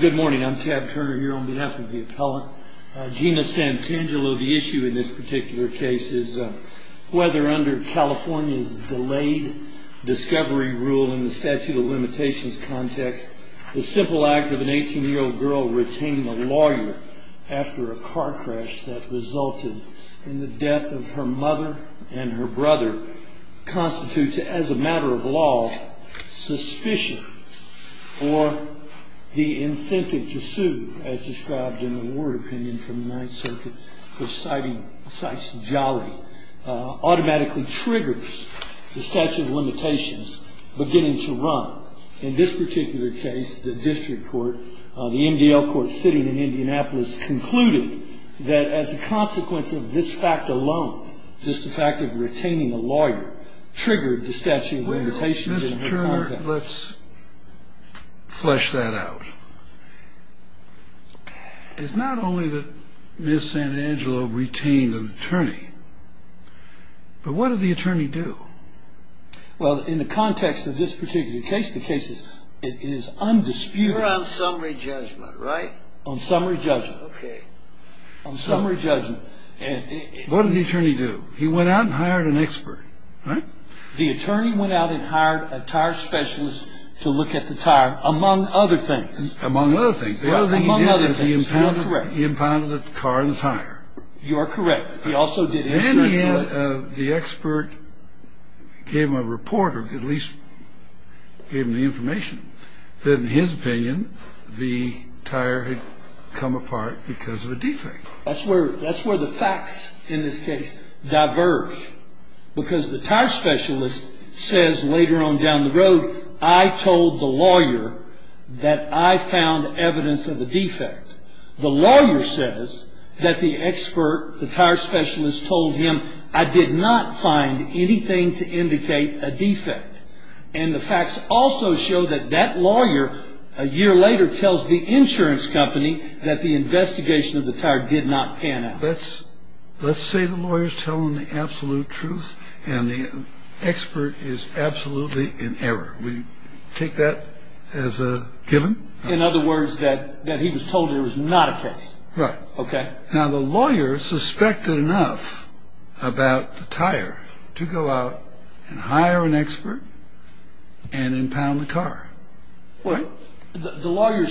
Good morning, I'm Tad Turner here on behalf of the appellant. Gina Santangelo, the issue in this particular case is whether under California's delayed discovery rule in the statute of limitations context, the simple act of an 18-year-old girl retaining a lawyer after a car crash that resulted in the death of her mother and her brother constitutes as a matter of law suspicion, or the incentive to sue as described in the Ward opinion from the Ninth Circuit which cites Jolly, automatically triggers the statute of limitations beginning to run. In this particular case, the district court, the MDL court sitting in Indianapolis concluded that as a consequence of this fact alone, just the fact of retaining a lawyer triggered the statute of limitations in her context. Well, Mr. Turner, let's flesh that out. It's not only that Ms. Santangelo retained an attorney, but what did the attorney do? Well in the context of this particular case, the case is undisputed. You're on summary judgment, right? On summary judgment. Okay. On summary judgment. What did the attorney do? He went out and hired an expert, right? The attorney went out and hired a tire specialist to look at the tire, among other things. Among other things. Among other things. Well, correct. The other thing he did was he impounded the car and the tire. You are correct. He also did... And then the expert gave him a report, or at least gave him the information, that in his opinion the tire had come apart because of a defect. That's where the facts in this case diverge, because the tire specialist says later on down the road, I told the lawyer that I found evidence of a defect. The lawyer says that the expert, the tire specialist, told him I did not find anything to indicate a defect. And the facts also show that that lawyer, a year later, tells the insurance company that the investigation of the tire did not pan out. Let's say the lawyer is telling the absolute truth and the expert is absolutely in error. Would you take that as a given? In other words, that he was told it was not a case. Right. Okay. Now the lawyer suspected enough about the tire to go out and hire an expert and impound the car. Well, the lawyer...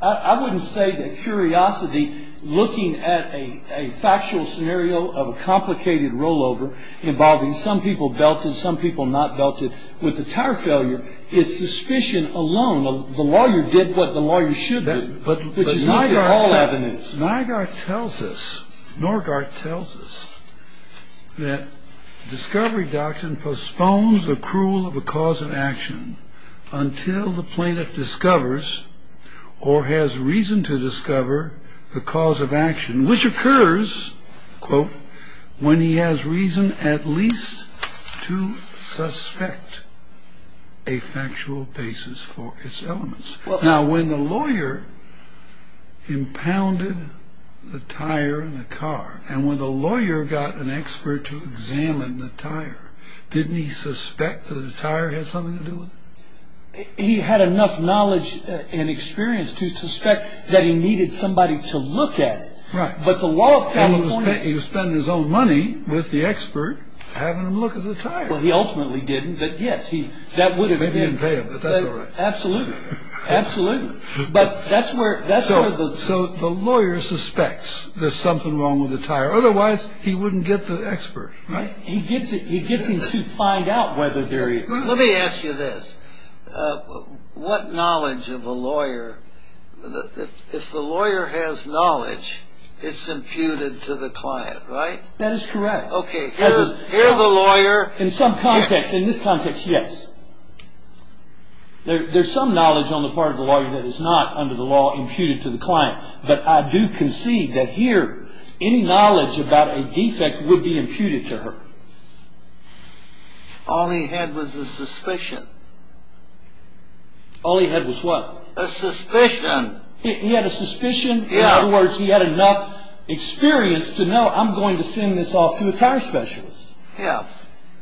I wouldn't say that curiosity, looking at a factual scenario of a complicated rollover involving some people belted, some people not belted, with the tire failure is suspicion alone. The lawyer did what the lawyer should do, which is look at all avenues. Nygaard tells us, Norgaard tells us, that Discovery Doctrine postpones the accrual of the cause of action until the plaintiff discovers or has reason to discover the cause of action, which occurs, quote, when he has reason at least to suspect a factual basis for its elements. Now, when the lawyer impounded the tire in the car and when the lawyer got an expert to examine the tire, didn't he suspect that the tire had something to do with it? He had enough knowledge and experience to suspect that he needed somebody to look at it. Right. But the law of California... He was spending his own money with the expert having him look at the tire. Well, he ultimately didn't, but yes, he... That would have been... Maybe he didn't pay him, but that's all right. Absolutely. Absolutely. But that's where... So the lawyer suspects there's something wrong with the tire. Otherwise, he wouldn't get the expert, right? He gets him to find out whether there is. Let me ask you this. What knowledge of a lawyer... If the lawyer has knowledge, it's imputed to the client, right? That is correct. Okay. Here the lawyer... In some context, in this context, yes. There's some knowledge on the part of the lawyer that is not, under the law, imputed to the client. But I do concede that here, any knowledge about a defect would be imputed to her. All he had was a suspicion. All he had was what? A suspicion. He had a suspicion? Yeah. In other words, he had enough experience to know, I'm going to send this off to a tire specialist. Yeah.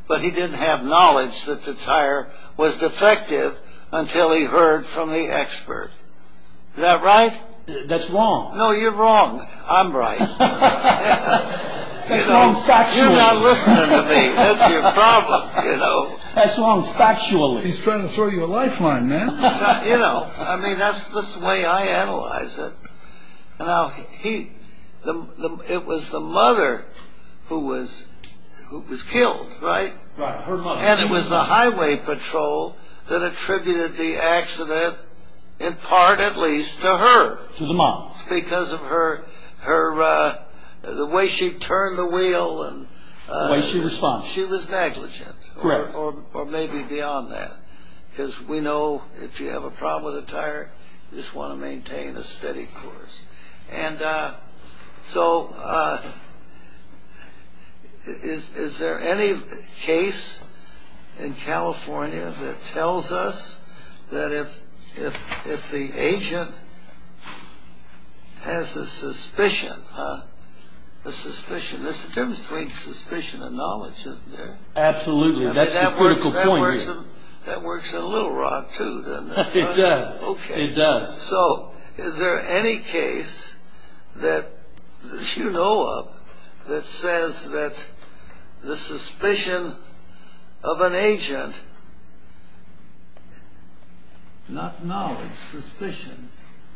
But he didn't have knowledge that the tire was defective until he heard from the expert. Is that right? That's wrong. No, you're wrong. I'm right. That's wrong factually. You're not listening to me. That's your problem, you know. That's wrong factually. He's trying to throw you a lifeline, man. You know, I mean, that's the way I analyze it. Now, it was the mother who was killed, right? Right, her mother. And it was the highway patrol that attributed the accident, in part at least, to her. To the mom. Because of her, the way she turned the wheel. The way she responded. She was negligent. Correct. Or maybe beyond that. Because we know if you have a problem with a tire, you just want to maintain a steady course. And so, is there any case in California that tells us that if the agent has a suspicion, a suspicion, there's a difference between suspicion and knowledge, isn't there? Absolutely. That's the critical point here. I mean, that works in Little Rock, too, doesn't it? It does. Okay. It does. So, is there any case that you know of that says that the suspicion of an agent, not knowledge, suspicion,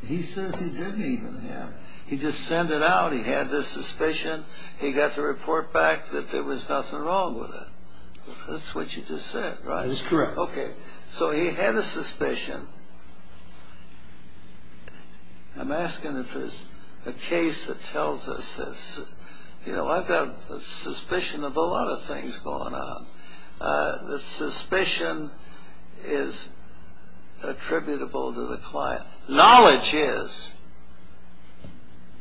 he says he didn't even have it. He just sent it out, he had this suspicion, he got the report back that there was nothing wrong with it. That's what you just said, right? That's correct. Okay. So, he had a suspicion. I'm asking if there's a case that tells us this. You know, I've got a suspicion of a lot of things going on. The suspicion is attributable to the client. Knowledge is.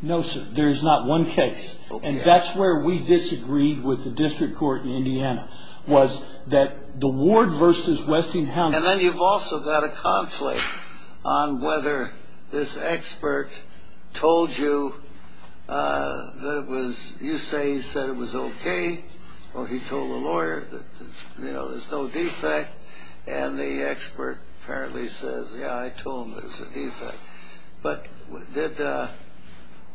No, sir. There's not one case. And that's where we disagreed with the district court in Indiana, was that the ward versus Westinghouse. And then you've also got a conflict on whether this expert told you that it was, you say he said it was okay, or he told the lawyer that, you know, there's no defect, and the expert apparently says, yeah, I told him there's a defect. But did the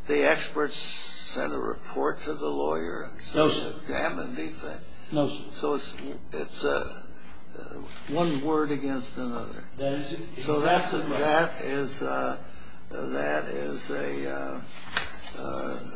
expert send a report to the lawyer and say there's a damn good defect? No, sir. So, it's one word against another. So, that is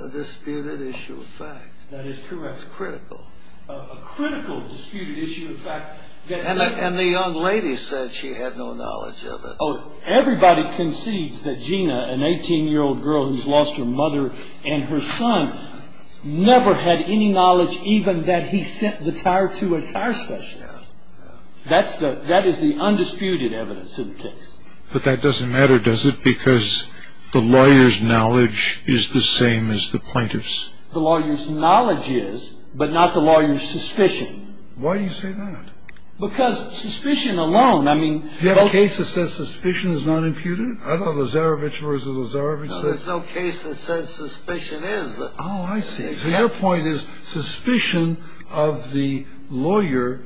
a disputed issue of fact. That is correct. It's critical. A critical disputed issue of fact. And the young lady said she had no knowledge of it. Oh, everybody concedes that Gina, an 18-year-old girl who's lost her mother and her son, never had any knowledge even that he sent the tire to a tire specialist. That is the undisputed evidence in the case. But that doesn't matter, does it? Because the lawyer's knowledge is the same as the plaintiff's. The lawyer's knowledge is, but not the lawyer's suspicion. Why do you say that? Because suspicion alone, I mean... Do you have a case that says suspicion is not imputed? I thought Lozarevic versus Lozarevic said... No, there's no case that says suspicion is. Oh, I see. So, your point is suspicion of the lawyer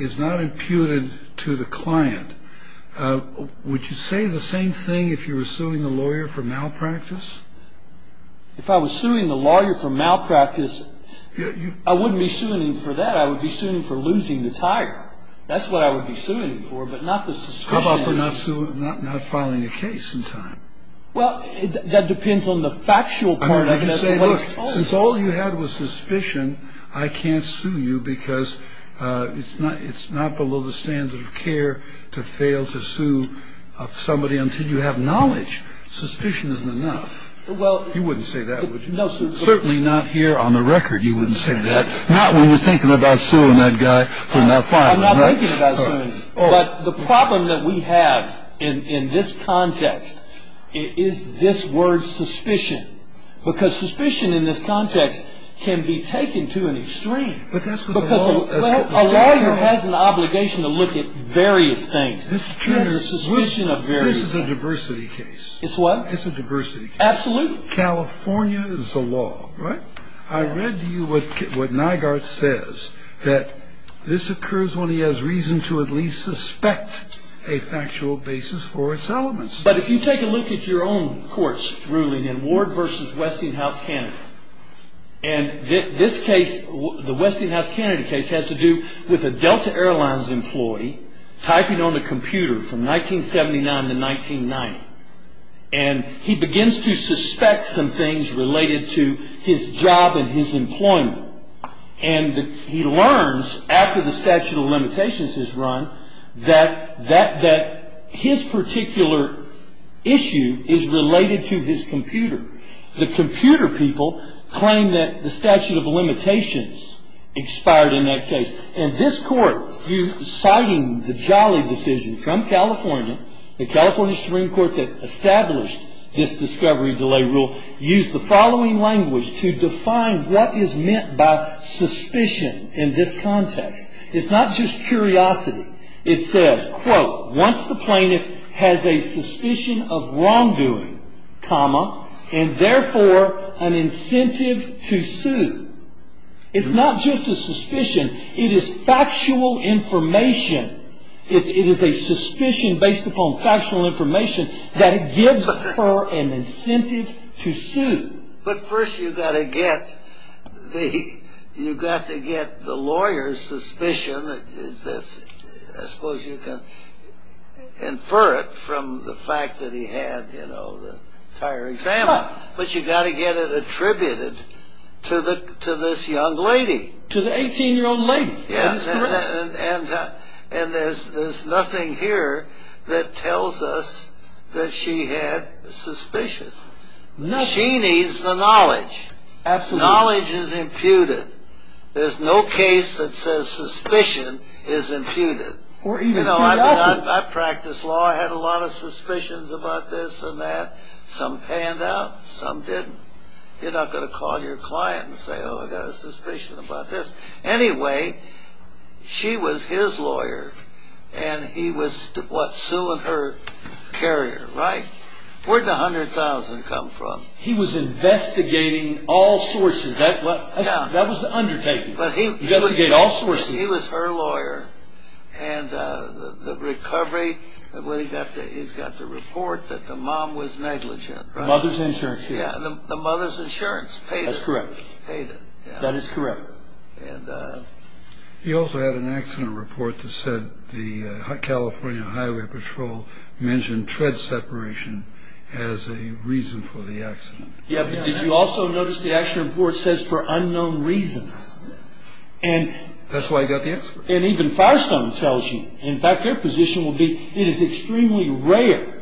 is not imputed to the client. Would you say the same thing if you were suing the lawyer for malpractice? If I was suing the lawyer for malpractice, I wouldn't be suing him for that. I would be suing him for losing the tire. That's what I would be suing him for, but not the suspicion. How about not filing a case in time? Well, that depends on the factual part of it. Since all you had was suspicion, I can't sue you because it's not below the standard of care to fail to sue somebody until you have knowledge. Suspicion isn't enough. You wouldn't say that, would you? Certainly not here on the record, you wouldn't say that. Not when you're thinking about suing that guy for not filing, right? But the problem that we have in this context is this word suspicion. Because suspicion in this context can be taken to an extreme. Because a lawyer has an obligation to look at various things. There's a suspicion of various things. This is a diversity case. It's what? It's a diversity case. Absolutely. California is the law, right? I read to you what Nygaard says. That this occurs when he has reason to at least suspect a factual basis for its elements. But if you take a look at your own court's ruling in Ward v. Westinghouse Kennedy. And this case, the Westinghouse Kennedy case, has to do with a Delta Airlines employee typing on the computer from 1979 to 1990. And he begins to suspect some things related to his job and his employment. And he learns, after the statute of limitations is run, that his particular issue is related to his computer. The computer people claim that the statute of limitations expired in that case. And this court, citing the Jolly decision from California, the California Supreme Court that established this discovery delay rule, used the following language to define what is meant by suspicion in this context. It's not just curiosity. It says, quote, once the plaintiff has a suspicion of wrongdoing, comma, and therefore an incentive to sue. It's not just a suspicion. It is factual information. It is a suspicion based upon factual information that gives her an incentive to sue. But first you've got to get the lawyer's suspicion. I suppose you can infer it from the fact that he had the entire exam. But you've got to get it attributed to this young lady. To the 18-year-old lady. That is correct. And there's nothing here that tells us that she had suspicion. Nothing. She needs the knowledge. Absolutely. Knowledge is imputed. There's no case that says suspicion is imputed. Or even curiosity. You know, I practice law. I had a lot of suspicions about this and that. Some panned out. Some didn't. You're not going to call your client and say, oh, I've got a suspicion about this. Anyway, she was his lawyer. And he was suing her carrier. Right? Where did the $100,000 come from? He was investigating all sources. That was the undertaking. Investigate all sources. He was her lawyer. And the recovery. He's got the report that the mom was negligent. The mother's insurance. The mother's insurance paid it. That is correct. He also had an accident report that said the California Highway Patrol mentioned tread separation as a reason for the accident. Yeah, but did you also notice the accident report says for unknown reasons? That's why he got the accident report. And even Firestone tells you. In fact, their position will be it is extremely rare.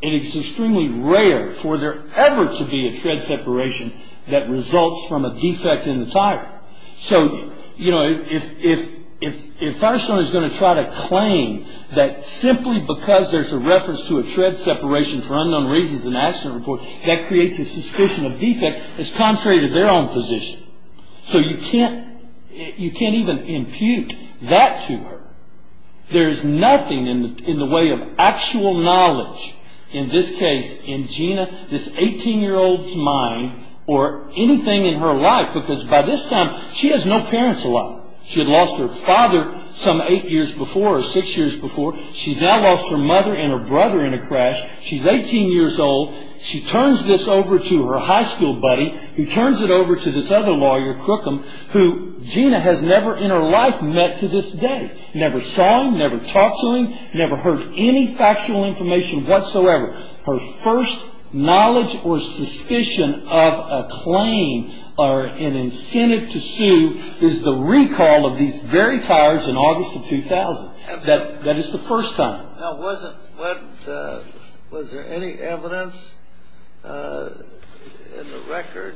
And it's extremely rare for there ever to be a tread separation that results from a defect in the tire. So, you know, if Firestone is going to try to claim that simply because there's a reference to a tread separation for unknown reasons in the accident report, that creates a suspicion of defect that's contrary to their own position. So you can't even impute that to her. There's nothing in the way of actual knowledge in this case in Gina, this 18-year-old's mind, or anything in her life. Because by this time, she has no parents alive. She had lost her father some eight years before or six years before. She's now lost her mother and her brother in a crash. She's 18 years old. She turns this over to her high school buddy, who turns it over to this other lawyer, Crookham, who Gina has never in her life met to this day. Never saw him. Never talked to him. Never heard any factual information whatsoever. Her first knowledge or suspicion of a claim or an incentive to sue is the recall of these very tires in August of 2000. That is the first time. Now, was there any evidence in the record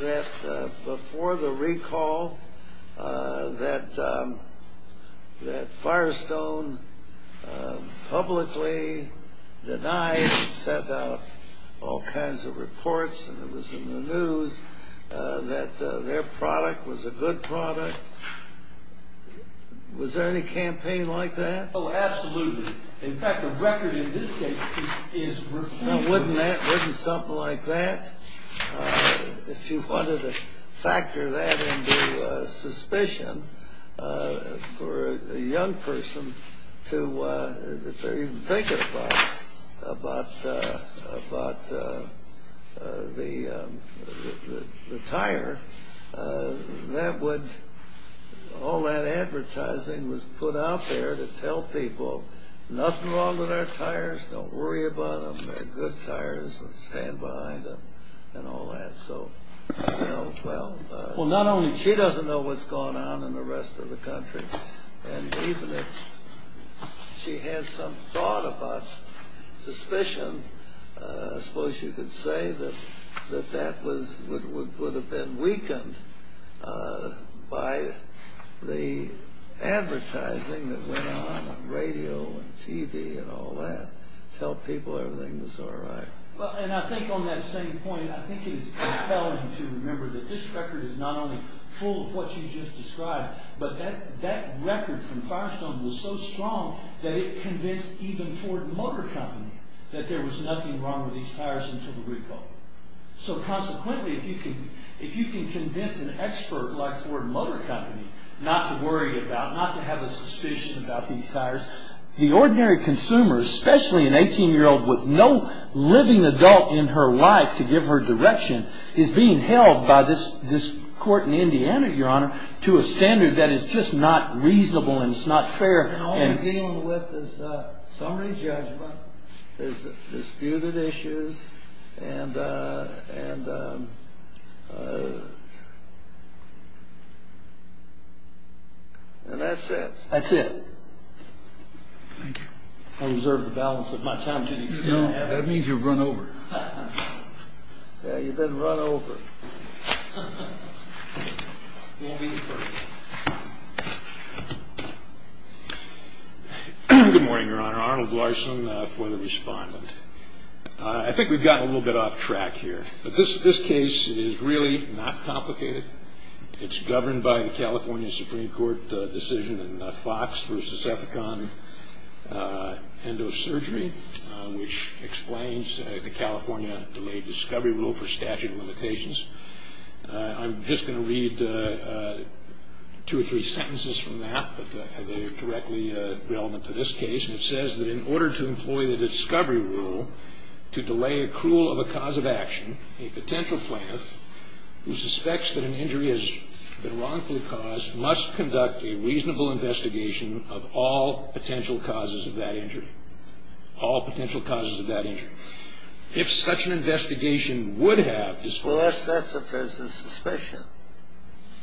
that before the recall that Firestone publicly denied and sent out all kinds of reports and it was in the news that their product was a good product? Was there any campaign like that? Oh, absolutely. In fact, the record in this case is... Now, wouldn't that, wouldn't something like that, if you wanted to factor that into suspicion for a young person to, if they're even thinking about the tire, that would, all that advertising was put out there to tell people, nothing wrong with our tires, don't worry about them, they're good tires, stand behind them, and all that. So, you know, well... Well, not only... She doesn't know what's going on in the rest of the country. And even if she had some thought about suspicion, I suppose you could say that that would have been weakened by the advertising that went on on radio and TV and all that to tell people everything was all right. Well, and I think on that same point, I think it is compelling to remember that this record is not only full of what you just described, but that record from Firestone was so strong that it convinced even Ford Motor Company that there was nothing wrong with these tires until the recall. So consequently, if you can convince an expert like Ford Motor Company not to worry about, not to have a suspicion about these tires, the ordinary consumer, especially an 18-year-old with no living adult in her life to give her direction, is being held by this court in Indiana, Your Honor, to a standard that is just not reasonable and it's not fair and... Sorry, Judge, but there's disputed issues and... And that's it. That's it. Thank you. I reserve the balance of my time to these gentlemen. No, that means you've run over. Yeah, you've been run over. Thank you. Good morning, Your Honor. Arnold Larson for the respondent. I think we've gotten a little bit off track here, but this case is really not complicated. It's governed by the California Supreme Court decision in Fox v. Efficon Endosurgery, which explains the California Delayed Discovery Rule for statute of limitations. I'm just going to read two or three sentences from that, but they're directly relevant to this case, and it says that in order to employ the discovery rule to delay accrual of a cause of action, a potential plaintiff who suspects that an injury has been wrongfully caused must conduct a reasonable investigation of all potential causes of that injury. All potential causes of that injury. If such an investigation would have disclosed... Well, that's if there's a suspicion.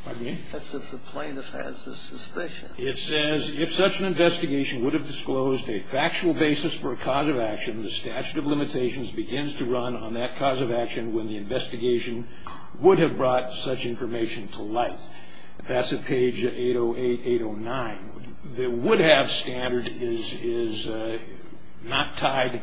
Pardon me? That's if the plaintiff has a suspicion. It says, if such an investigation would have disclosed a factual basis for a cause of action, the statute of limitations begins to run on that cause of action when the investigation would have brought such information to light. That's at page 808-809. The would-have standard is not tied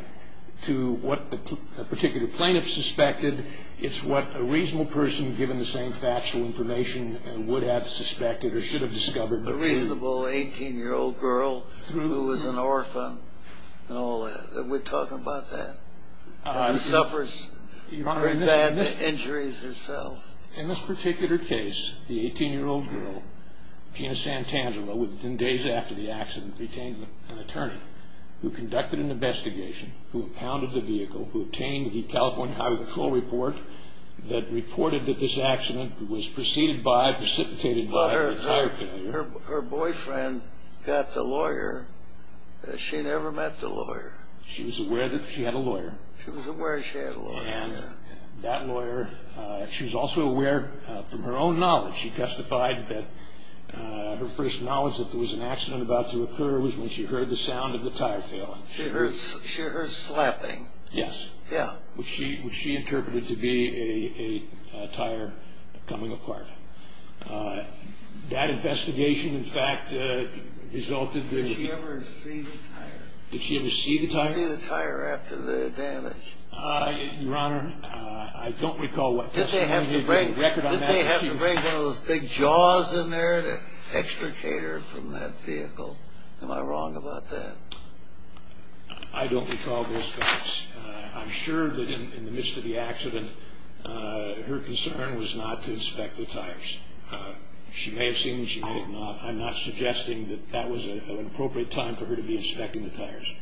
to what a particular plaintiff suspected. It's what a reasonable person, given the same factual information, would have suspected or should have discovered. A reasonable 18-year-old girl who was an orphan and all that. We're talking about that. Who suffers very bad injuries herself. In this particular case, the 18-year-old girl, Gina Santangelo, within days after the accident, retained an attorney who conducted an investigation, who pounded the vehicle, who obtained the California Highway Patrol report that reported that this accident was preceded by, precipitated by, a tire failure. But her boyfriend got the lawyer. She never met the lawyer. She was aware that she had a lawyer. She was aware she had a lawyer. And that lawyer, she was also aware from her own knowledge, she testified that her first knowledge that there was an accident about to occur was when she heard the sound of the tire failing. She heard slapping. Yes. Yeah. Which she interpreted to be a tire coming apart. That investigation, in fact, resulted in... Did she ever see the tire? Did she ever see the tire? Did she see the tire after the damage? Your Honor, I don't recall what... Did they have to bring one of those big jaws in there to extricate her from that vehicle? Am I wrong about that? I don't recall those facts. I'm sure that in the midst of the accident, her concern was not to inspect the tires. She may have seen them, she may have not. I'm not suggesting that that was an appropriate time for her to be inspecting the tires.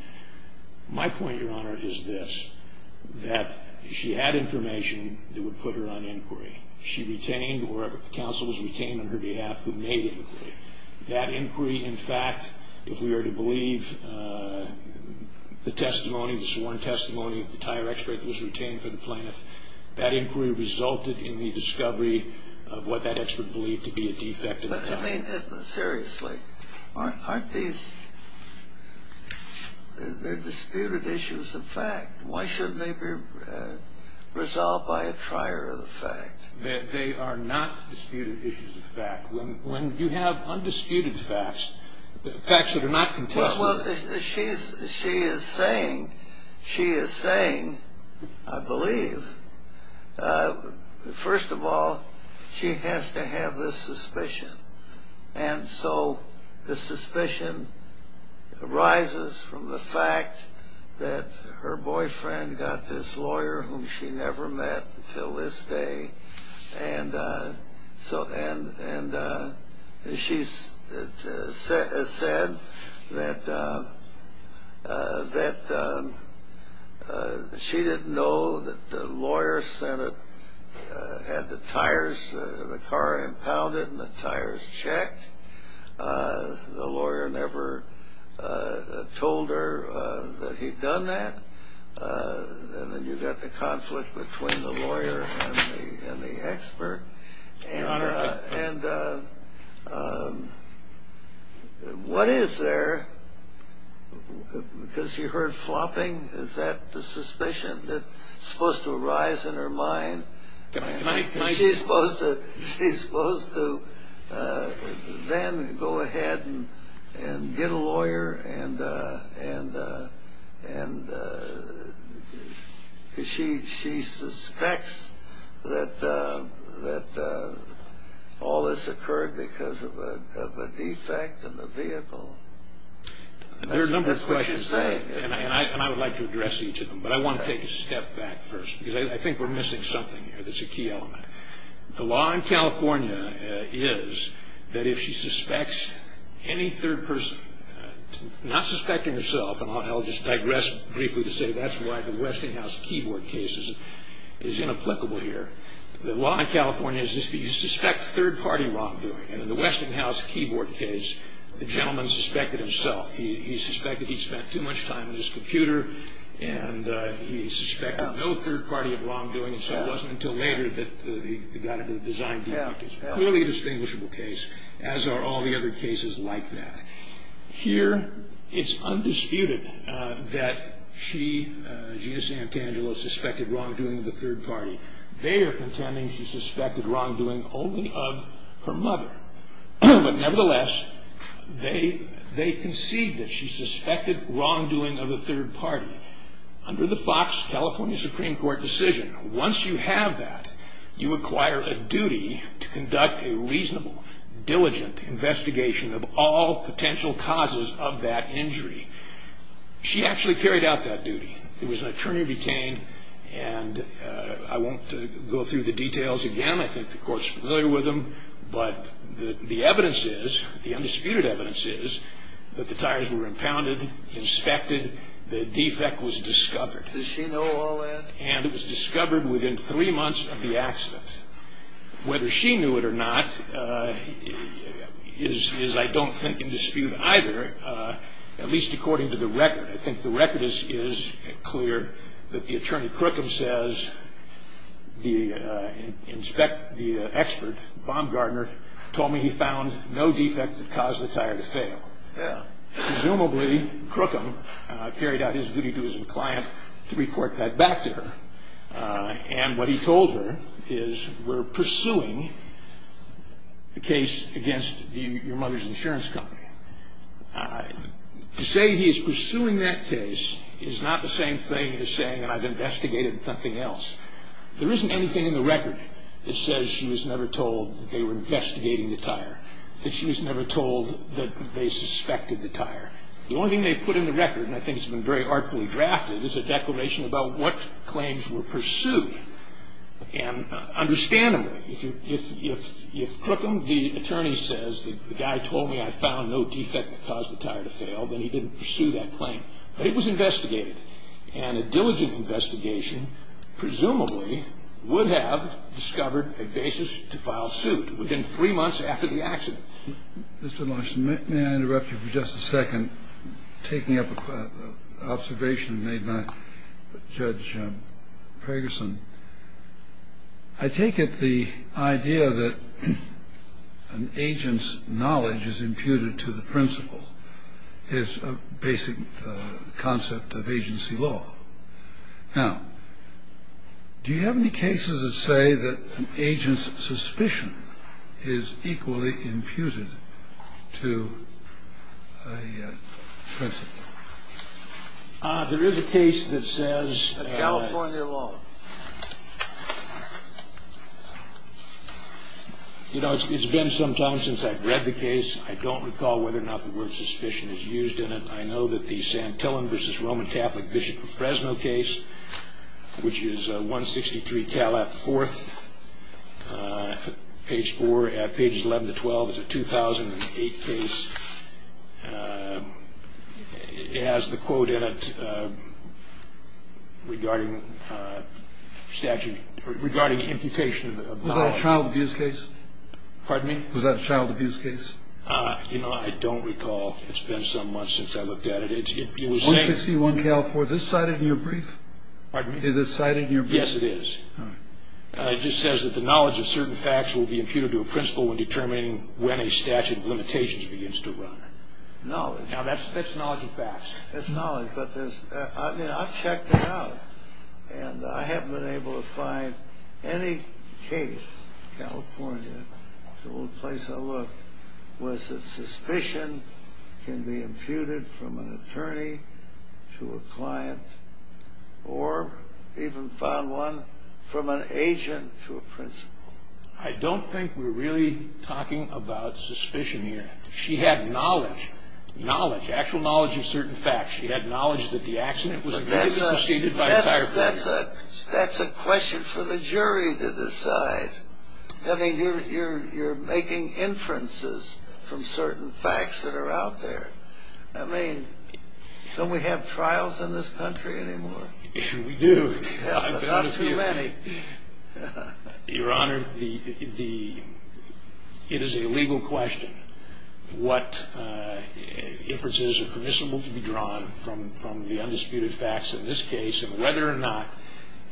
My point, Your Honor, is this. That she had information that would put her on inquiry. She retained, or counsel was retained on her behalf who made the inquiry. That inquiry, in fact, if we were to believe the testimony, the sworn testimony of the tire expert that was retained for the plaintiff, that inquiry resulted in the discovery of what that expert believed to be a defect of the tire. But, I mean, seriously. Aren't these... They're disputed issues of fact. Why shouldn't they be resolved by a trier of the fact? They are not disputed issues of fact. When you have undisputed facts, facts that are not... Well, she is saying, she is saying, I believe, first of all, she has to have this suspicion. And so, the suspicion arises from the fact that her boyfriend got this lawyer, whom she never met until this day, and she said that she didn't know that the lawyer had the tires, the car impounded and the tires checked. The lawyer never told her that he'd done that. And then you've got the conflict between the lawyer and the expert. And what is there? Because she heard flopping? Is that the suspicion that's supposed to arise in her mind? She's supposed to then go ahead and get a lawyer and she suspects that all this occurred because of a defect in the vehicle. There are a number of questions there, and I would like to address each of them. But I want to take a step back first, because I think we're missing something here that's a key element. The law in California is that if she suspects any third person, not suspecting herself, and I'll just digress briefly to say that's why the Westinghouse keyboard case is inapplicable here. The law in California is that you suspect third-party wrongdoing. And in the Westinghouse keyboard case, the gentleman suspected himself. He suspected he spent too much time on his computer and he suspected no third-party wrongdoing, so it wasn't until later that he got into the design debate. It's clearly a distinguishable case, as are all the other cases like that. Here, it's undisputed that she, Jesus Sant'Angelo, suspected wrongdoing of the third party. They are contending she suspected wrongdoing only of her mother. But nevertheless, they concede that she suspected wrongdoing of the third party. Under the Fox, California Supreme Court decision, once you have that, you acquire a duty to conduct a reasonable, diligent investigation of all potential causes of that injury. She actually carried out that duty. It was an attorney retained, and I won't go through the details again. I think the court's familiar with them. But the evidence is, the undisputed evidence is, that the tires were impounded, inspected, the defect was discovered. Does she know all that? And it was discovered within three months of the accident. Whether she knew it or not is, I don't think, in dispute either, at least according to the record. I think the record is clear that the attorney, Crookham, says the expert, Baumgardner, told me he found no defect that caused the tire to fail. Presumably, Crookham carried out his duty to his client to report that back to her. And what he told her is, we're pursuing the case against your mother's insurance company. To say he is pursuing that case is not the same thing as saying I've investigated something else. There isn't anything in the record that says she was never told that they were investigating the tire. That she was never told that they suspected the tire. The only thing they put in the record, and I think it's been very artfully drafted, is a declaration about what claims were pursued. And understandably, if Crookham, the attorney, says the guy told me I found no defect that caused the tire to fail, then he didn't pursue that claim. But it was investigated. And a diligent investigation, presumably, would have discovered a basis to file suit within three months after the accident. Mr. Larson, may I interrupt you for just a second, taking up an observation made by Judge Ferguson? I take it the idea that an agent's knowledge is imputed to the principal is a basic concept of agency law. Now, do you have any cases that say that an agent's suspicion is equally imputed to a principal? There is a case that says... California law. You know, it's been some time since I've read the case. I don't recall whether or not the word suspicion is used in it. I know that the Santillan v. Roman Catholic Bishop of Fresno case, which is 163 Calat IV, page 4, pages 11 to 12, is a 2008 case. It has the quote in it regarding statute... regarding imputation of... Was that a child abuse case? Pardon me? Was that a child abuse case? You know, I don't recall. It's been some months since I looked at it. 161 Calat IV, is this cited in your brief? Pardon me? Is this cited in your brief? Yes, it is. It just says that the knowledge of certain facts will be imputed to a principal when determining when a statute of limitations begins to run. Now, that's knowledge of facts. That's knowledge, but there's... I mean, I've checked it out, and I haven't been able to find any case in California that's the only place I looked, was that suspicion can be imputed from an attorney to a client or even found one from an agent to a principal. I don't think we're really talking about suspicion here. She had knowledge. Knowledge. Actual knowledge of certain facts. She had knowledge that the accident was... But that's a question for the jury to decide. I mean, you're making inferences from certain facts that are out there. I mean, don't we have trials in this country anymore? We do. Not too many. Your Honor, it is a legal question what inferences are permissible to be drawn from the undisputed facts in this case and whether or not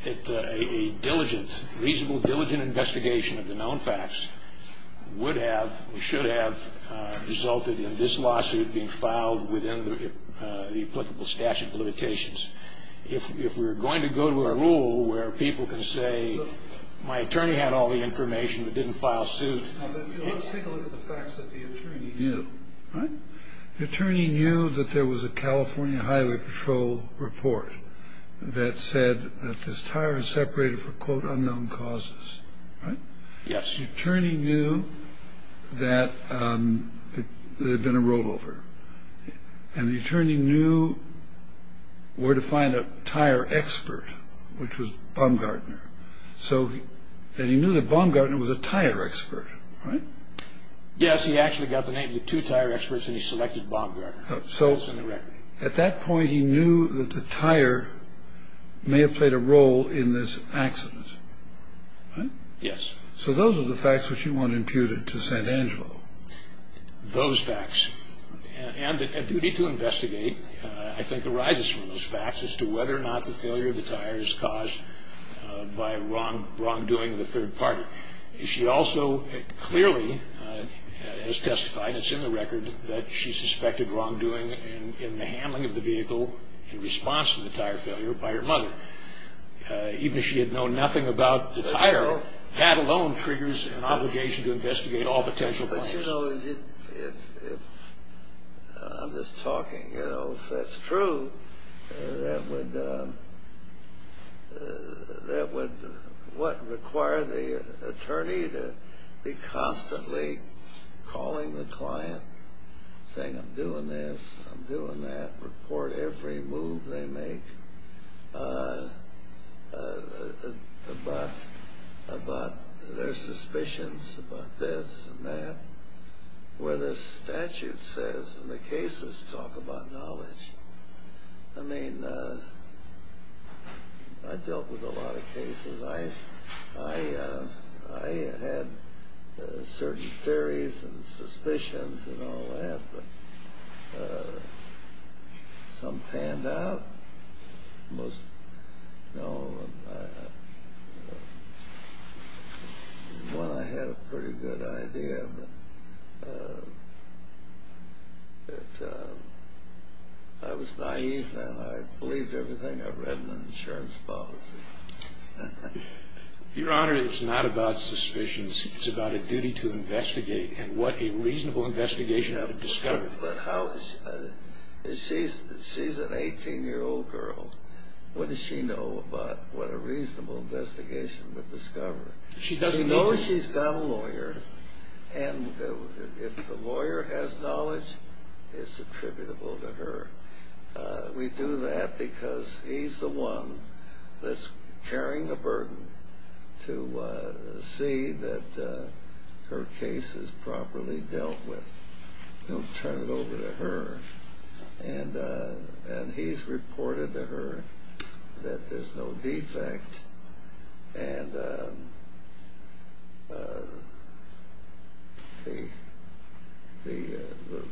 a diligent, reasonable, diligent investigation of the known facts would have or should have resulted in this lawsuit being filed within the applicable statute of limitations. If we're going to go to a rule where people can say my attorney had all the information but didn't file suit... Let's take a look at the facts that the attorney knew. The attorney knew that there was a California Highway Patrol report. That said that this tire was separated for, quote, unknown causes. Right? Yes. The attorney knew that there had been a rollover. And the attorney knew where to find a tire expert, which was Baumgartner. And he knew that Baumgartner was a tire expert, right? Yes, he actually got the name of the two tire experts and he selected Baumgartner. So at that point he knew that the tire may have played a role in this accident. Right? Yes. So those are the facts which you want imputed to St. Angelo. Those facts. And a duty to investigate, I think, arises from those facts as to whether or not the failure of the tire is caused by wrongdoing of the third party. She also clearly has testified, it's in the record, that she suspected wrongdoing in the handling of the vehicle in response to the tire failure by her mother. Even if she had known nothing about the tire, that alone triggers an obligation to investigate all potential plaintiffs. But, you know, I'm just talking. You know, if that's true, that would require the attorney to be constantly calling the client, saying, I'm doing this, I'm doing that, report every move they make about their suspicions about this and that, where the statute says and the cases talk about knowledge. I mean, I dealt with a lot of cases. I had certain theories and suspicions and all that, but some panned out. One, I had a pretty good idea, but I was naive and I believed everything I read in the insurance policy. Your Honor, it's not about suspicions. It's about a duty to investigate and what a reasonable investigation would discover. She's an 18-year-old girl. What does she know about what a reasonable investigation would discover? She knows she's got a lawyer, and if the lawyer has knowledge, it's attributable to her. We do that because he's the one that's carrying the burden to see that her case is properly dealt with. Don't turn it over to her. And he's reported to her that there's no defect. And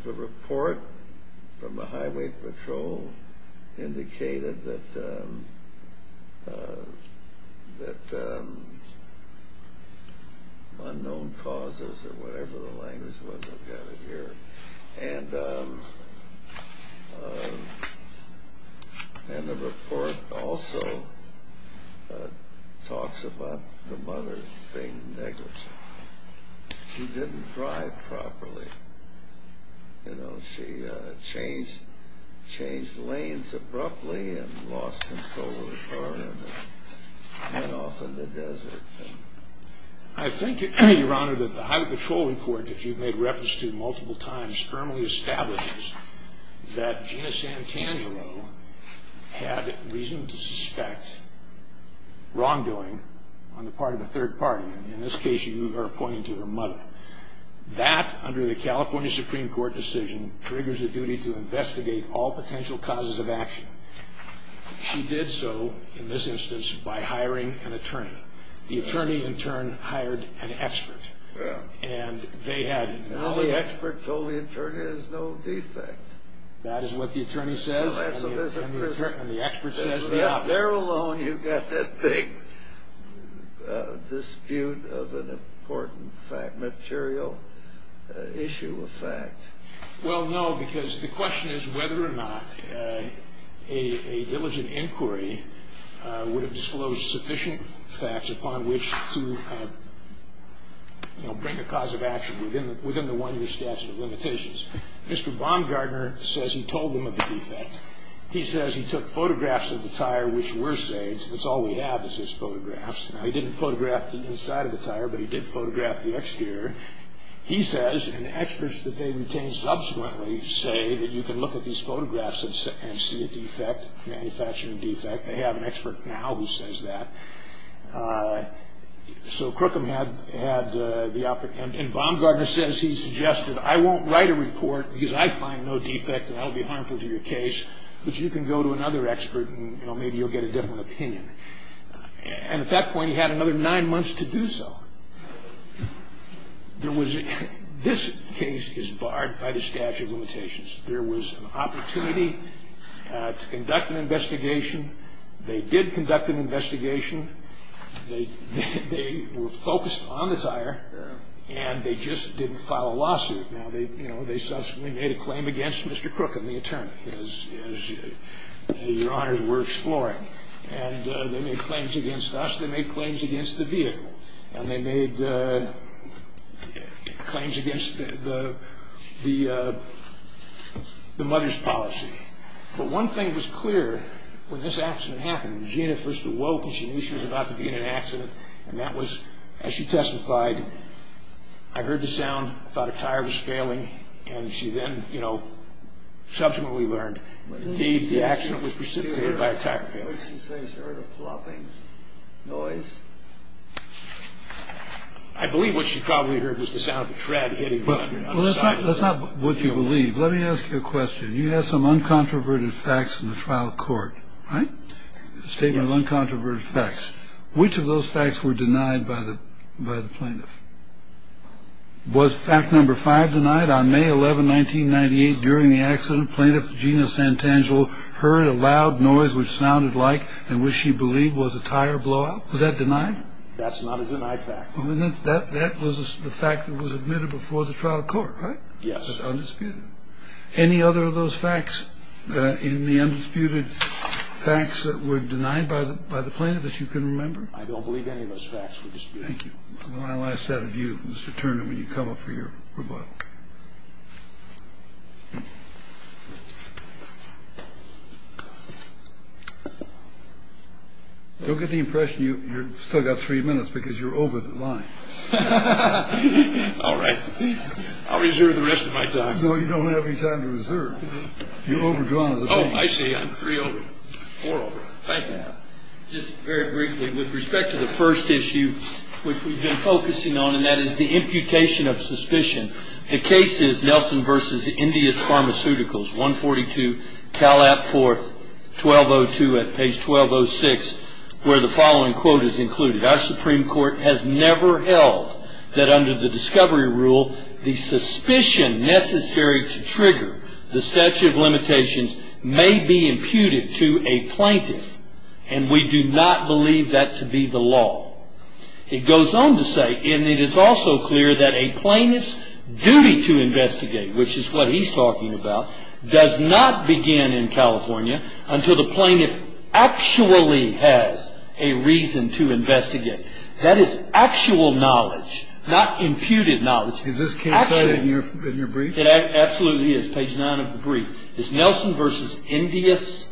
the report from the highway patrol indicated that unknown causes or whatever the language was, I've got it here, and the report also talks about the mother being negligent. She didn't drive properly. You know, she changed lanes abruptly and lost control of the car and went off in the desert. I think, Your Honor, that the highway patrol report that you've made reference to multiple times firmly establishes that Gina Santanaro had reasonable to suspect wrongdoing on the part of a third party. In this case, you are pointing to her mother. That, under the California Supreme Court decision, triggers a duty to investigate all potential causes of action. She did so, in this instance, by hiring an attorney. The attorney, in turn, hired an expert. And they had knowledge... Well, the expert told the attorney there's no defect. That is what the attorney says. And the expert says there are. There alone, you've got that big dispute of an important fact, material issue of fact. Well, no, because the question is whether or not a diligent inquiry would have disclosed sufficient facts upon which to bring a cause of action within the 1-year statute of limitations. Mr. Baumgartner says he told them of the defect. He says he took photographs of the tire which were saved. That's all we have is his photographs. Now, he didn't photograph the inside of the tire, but he did photograph the exterior. He says, and experts that they retain subsequently say, that you can look at these photographs and see a defect, manufacturing defect. They have an expert now who says that. So Crookham had the... And Baumgartner says he suggested, I won't write a report because I find no defect and that will be harmful to your case, but you can go to another expert and maybe you'll get a different opinion. And at that point, he had another 9 months to do so. This case is barred by the statute of limitations. There was an opportunity to conduct an investigation. They did conduct an investigation. They were focused on the tire and they just didn't file a lawsuit. Now, they subsequently made a claim against Mr. Crookham, the attorney, as your honors were exploring. And they made claims against us. They made claims against the vehicle. And they made claims against the mother's policy. But one thing was clear when this accident happened. Gina first awoke and she knew she was about to be in an accident. And that was, as she testified, I heard the sound, thought a tire was failing, and she then, you know, subsequently learned that indeed the accident was precipitated by a tire failing. What did she say? She heard a plopping noise? I believe what she probably heard was the sound of the tread hitting the ground. That's not what you believe. Let me ask you a question. You have some uncontroverted facts in the trial court, right? Statement of uncontroverted facts. Which of those facts were denied by the plaintiff? Was fact number 5 denied? On May 11, 1998, during the accident, plaintiff Gina Santangelo heard a loud noise which sounded like and which she believed was a tire blowout. Was that denied? That's not a denied fact. That was the fact that was admitted before the trial court, right? Yes. That's undisputed. Any other of those facts in the undisputed facts that were denied by the plaintiff that you can remember? I don't believe any of those facts were disputed. Thank you. I want to ask that of you, Mr. Turner, when you come up for your rebuttal. Don't get the impression you've still got three minutes because you're over the line. All right. I'll reserve the rest of my time. No, you don't have any time to reserve. You're overdrawn. Oh, I see. I'm three over. Four over. Thank you. Just very briefly, with respect to the first issue, which we've been focusing on, and that is the imputation of suspicion. If you look at the first issue, you'll see that the plaintiff, the case is Nelson v. Indias Pharmaceuticals, 142 Calat 4th, 1202 at page 1206, where the following quote is included. And we do not believe that to be the law. It goes on to say, which is what he's talking about, That is actual knowledge, not imputed knowledge. Is this case cited in your brief? It absolutely is. Page 9 of the brief. It's Nelson v. Indias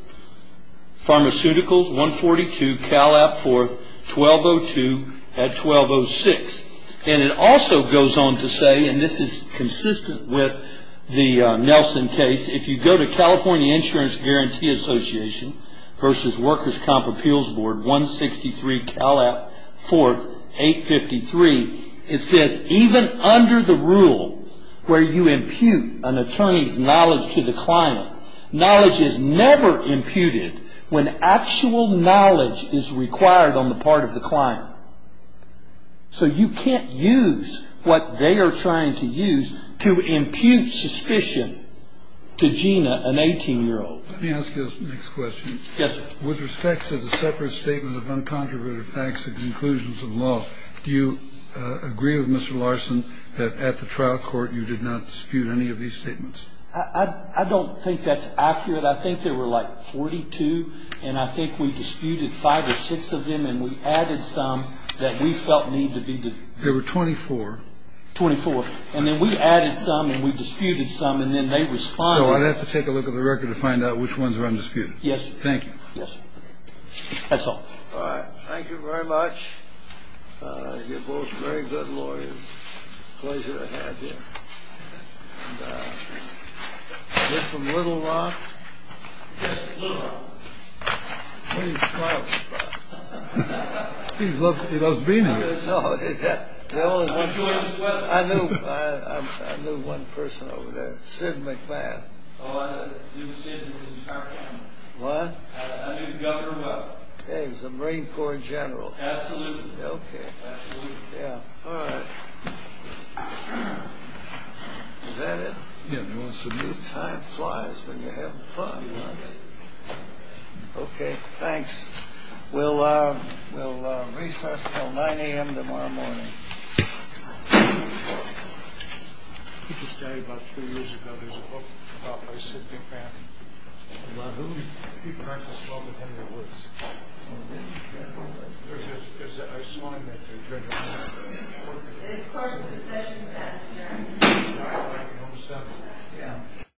Pharmaceuticals, 142 Calat 4th, 1202 at 1206. And it also goes on to say, and this is consistent with the Nelson case, It says, So you can't use what they are trying to use to impute suspicion to Gina, an 18-year-old. Let me ask you this next question. Yes, sir. With respect to the separate statement of uncontroverted facts and conclusions of the law, do you agree with Mr. Larson that at the trial court you did not dispute any of these statements? I don't think that's accurate. I think there were like 42, and I think we disputed five or six of them, and we added some that we felt needed to be duped. There were 24. 24. And then we added some, and we disputed some, and then they responded. So I'd have to take a look at the record to find out which ones are undisputed. Yes, sir. Thank you. Yes, sir. That's all. Thank you very much. You're both very good lawyers. Pleasure to have you. Is this from Little Rock? Yes, Little Rock. What are you smiling about? He loves being here. I knew one person over there. Sid McMaster. What? He's a Marine Corps General. Absolutely. Is that it? Time flies when you're having fun. Okay, thanks. We'll recess until 9 a.m. tomorrow morning. He just died about three years ago. There's a book about by Sid McMaster. He practiced law within the woods. I saw him that day. It's part of the session, sir. Yeah.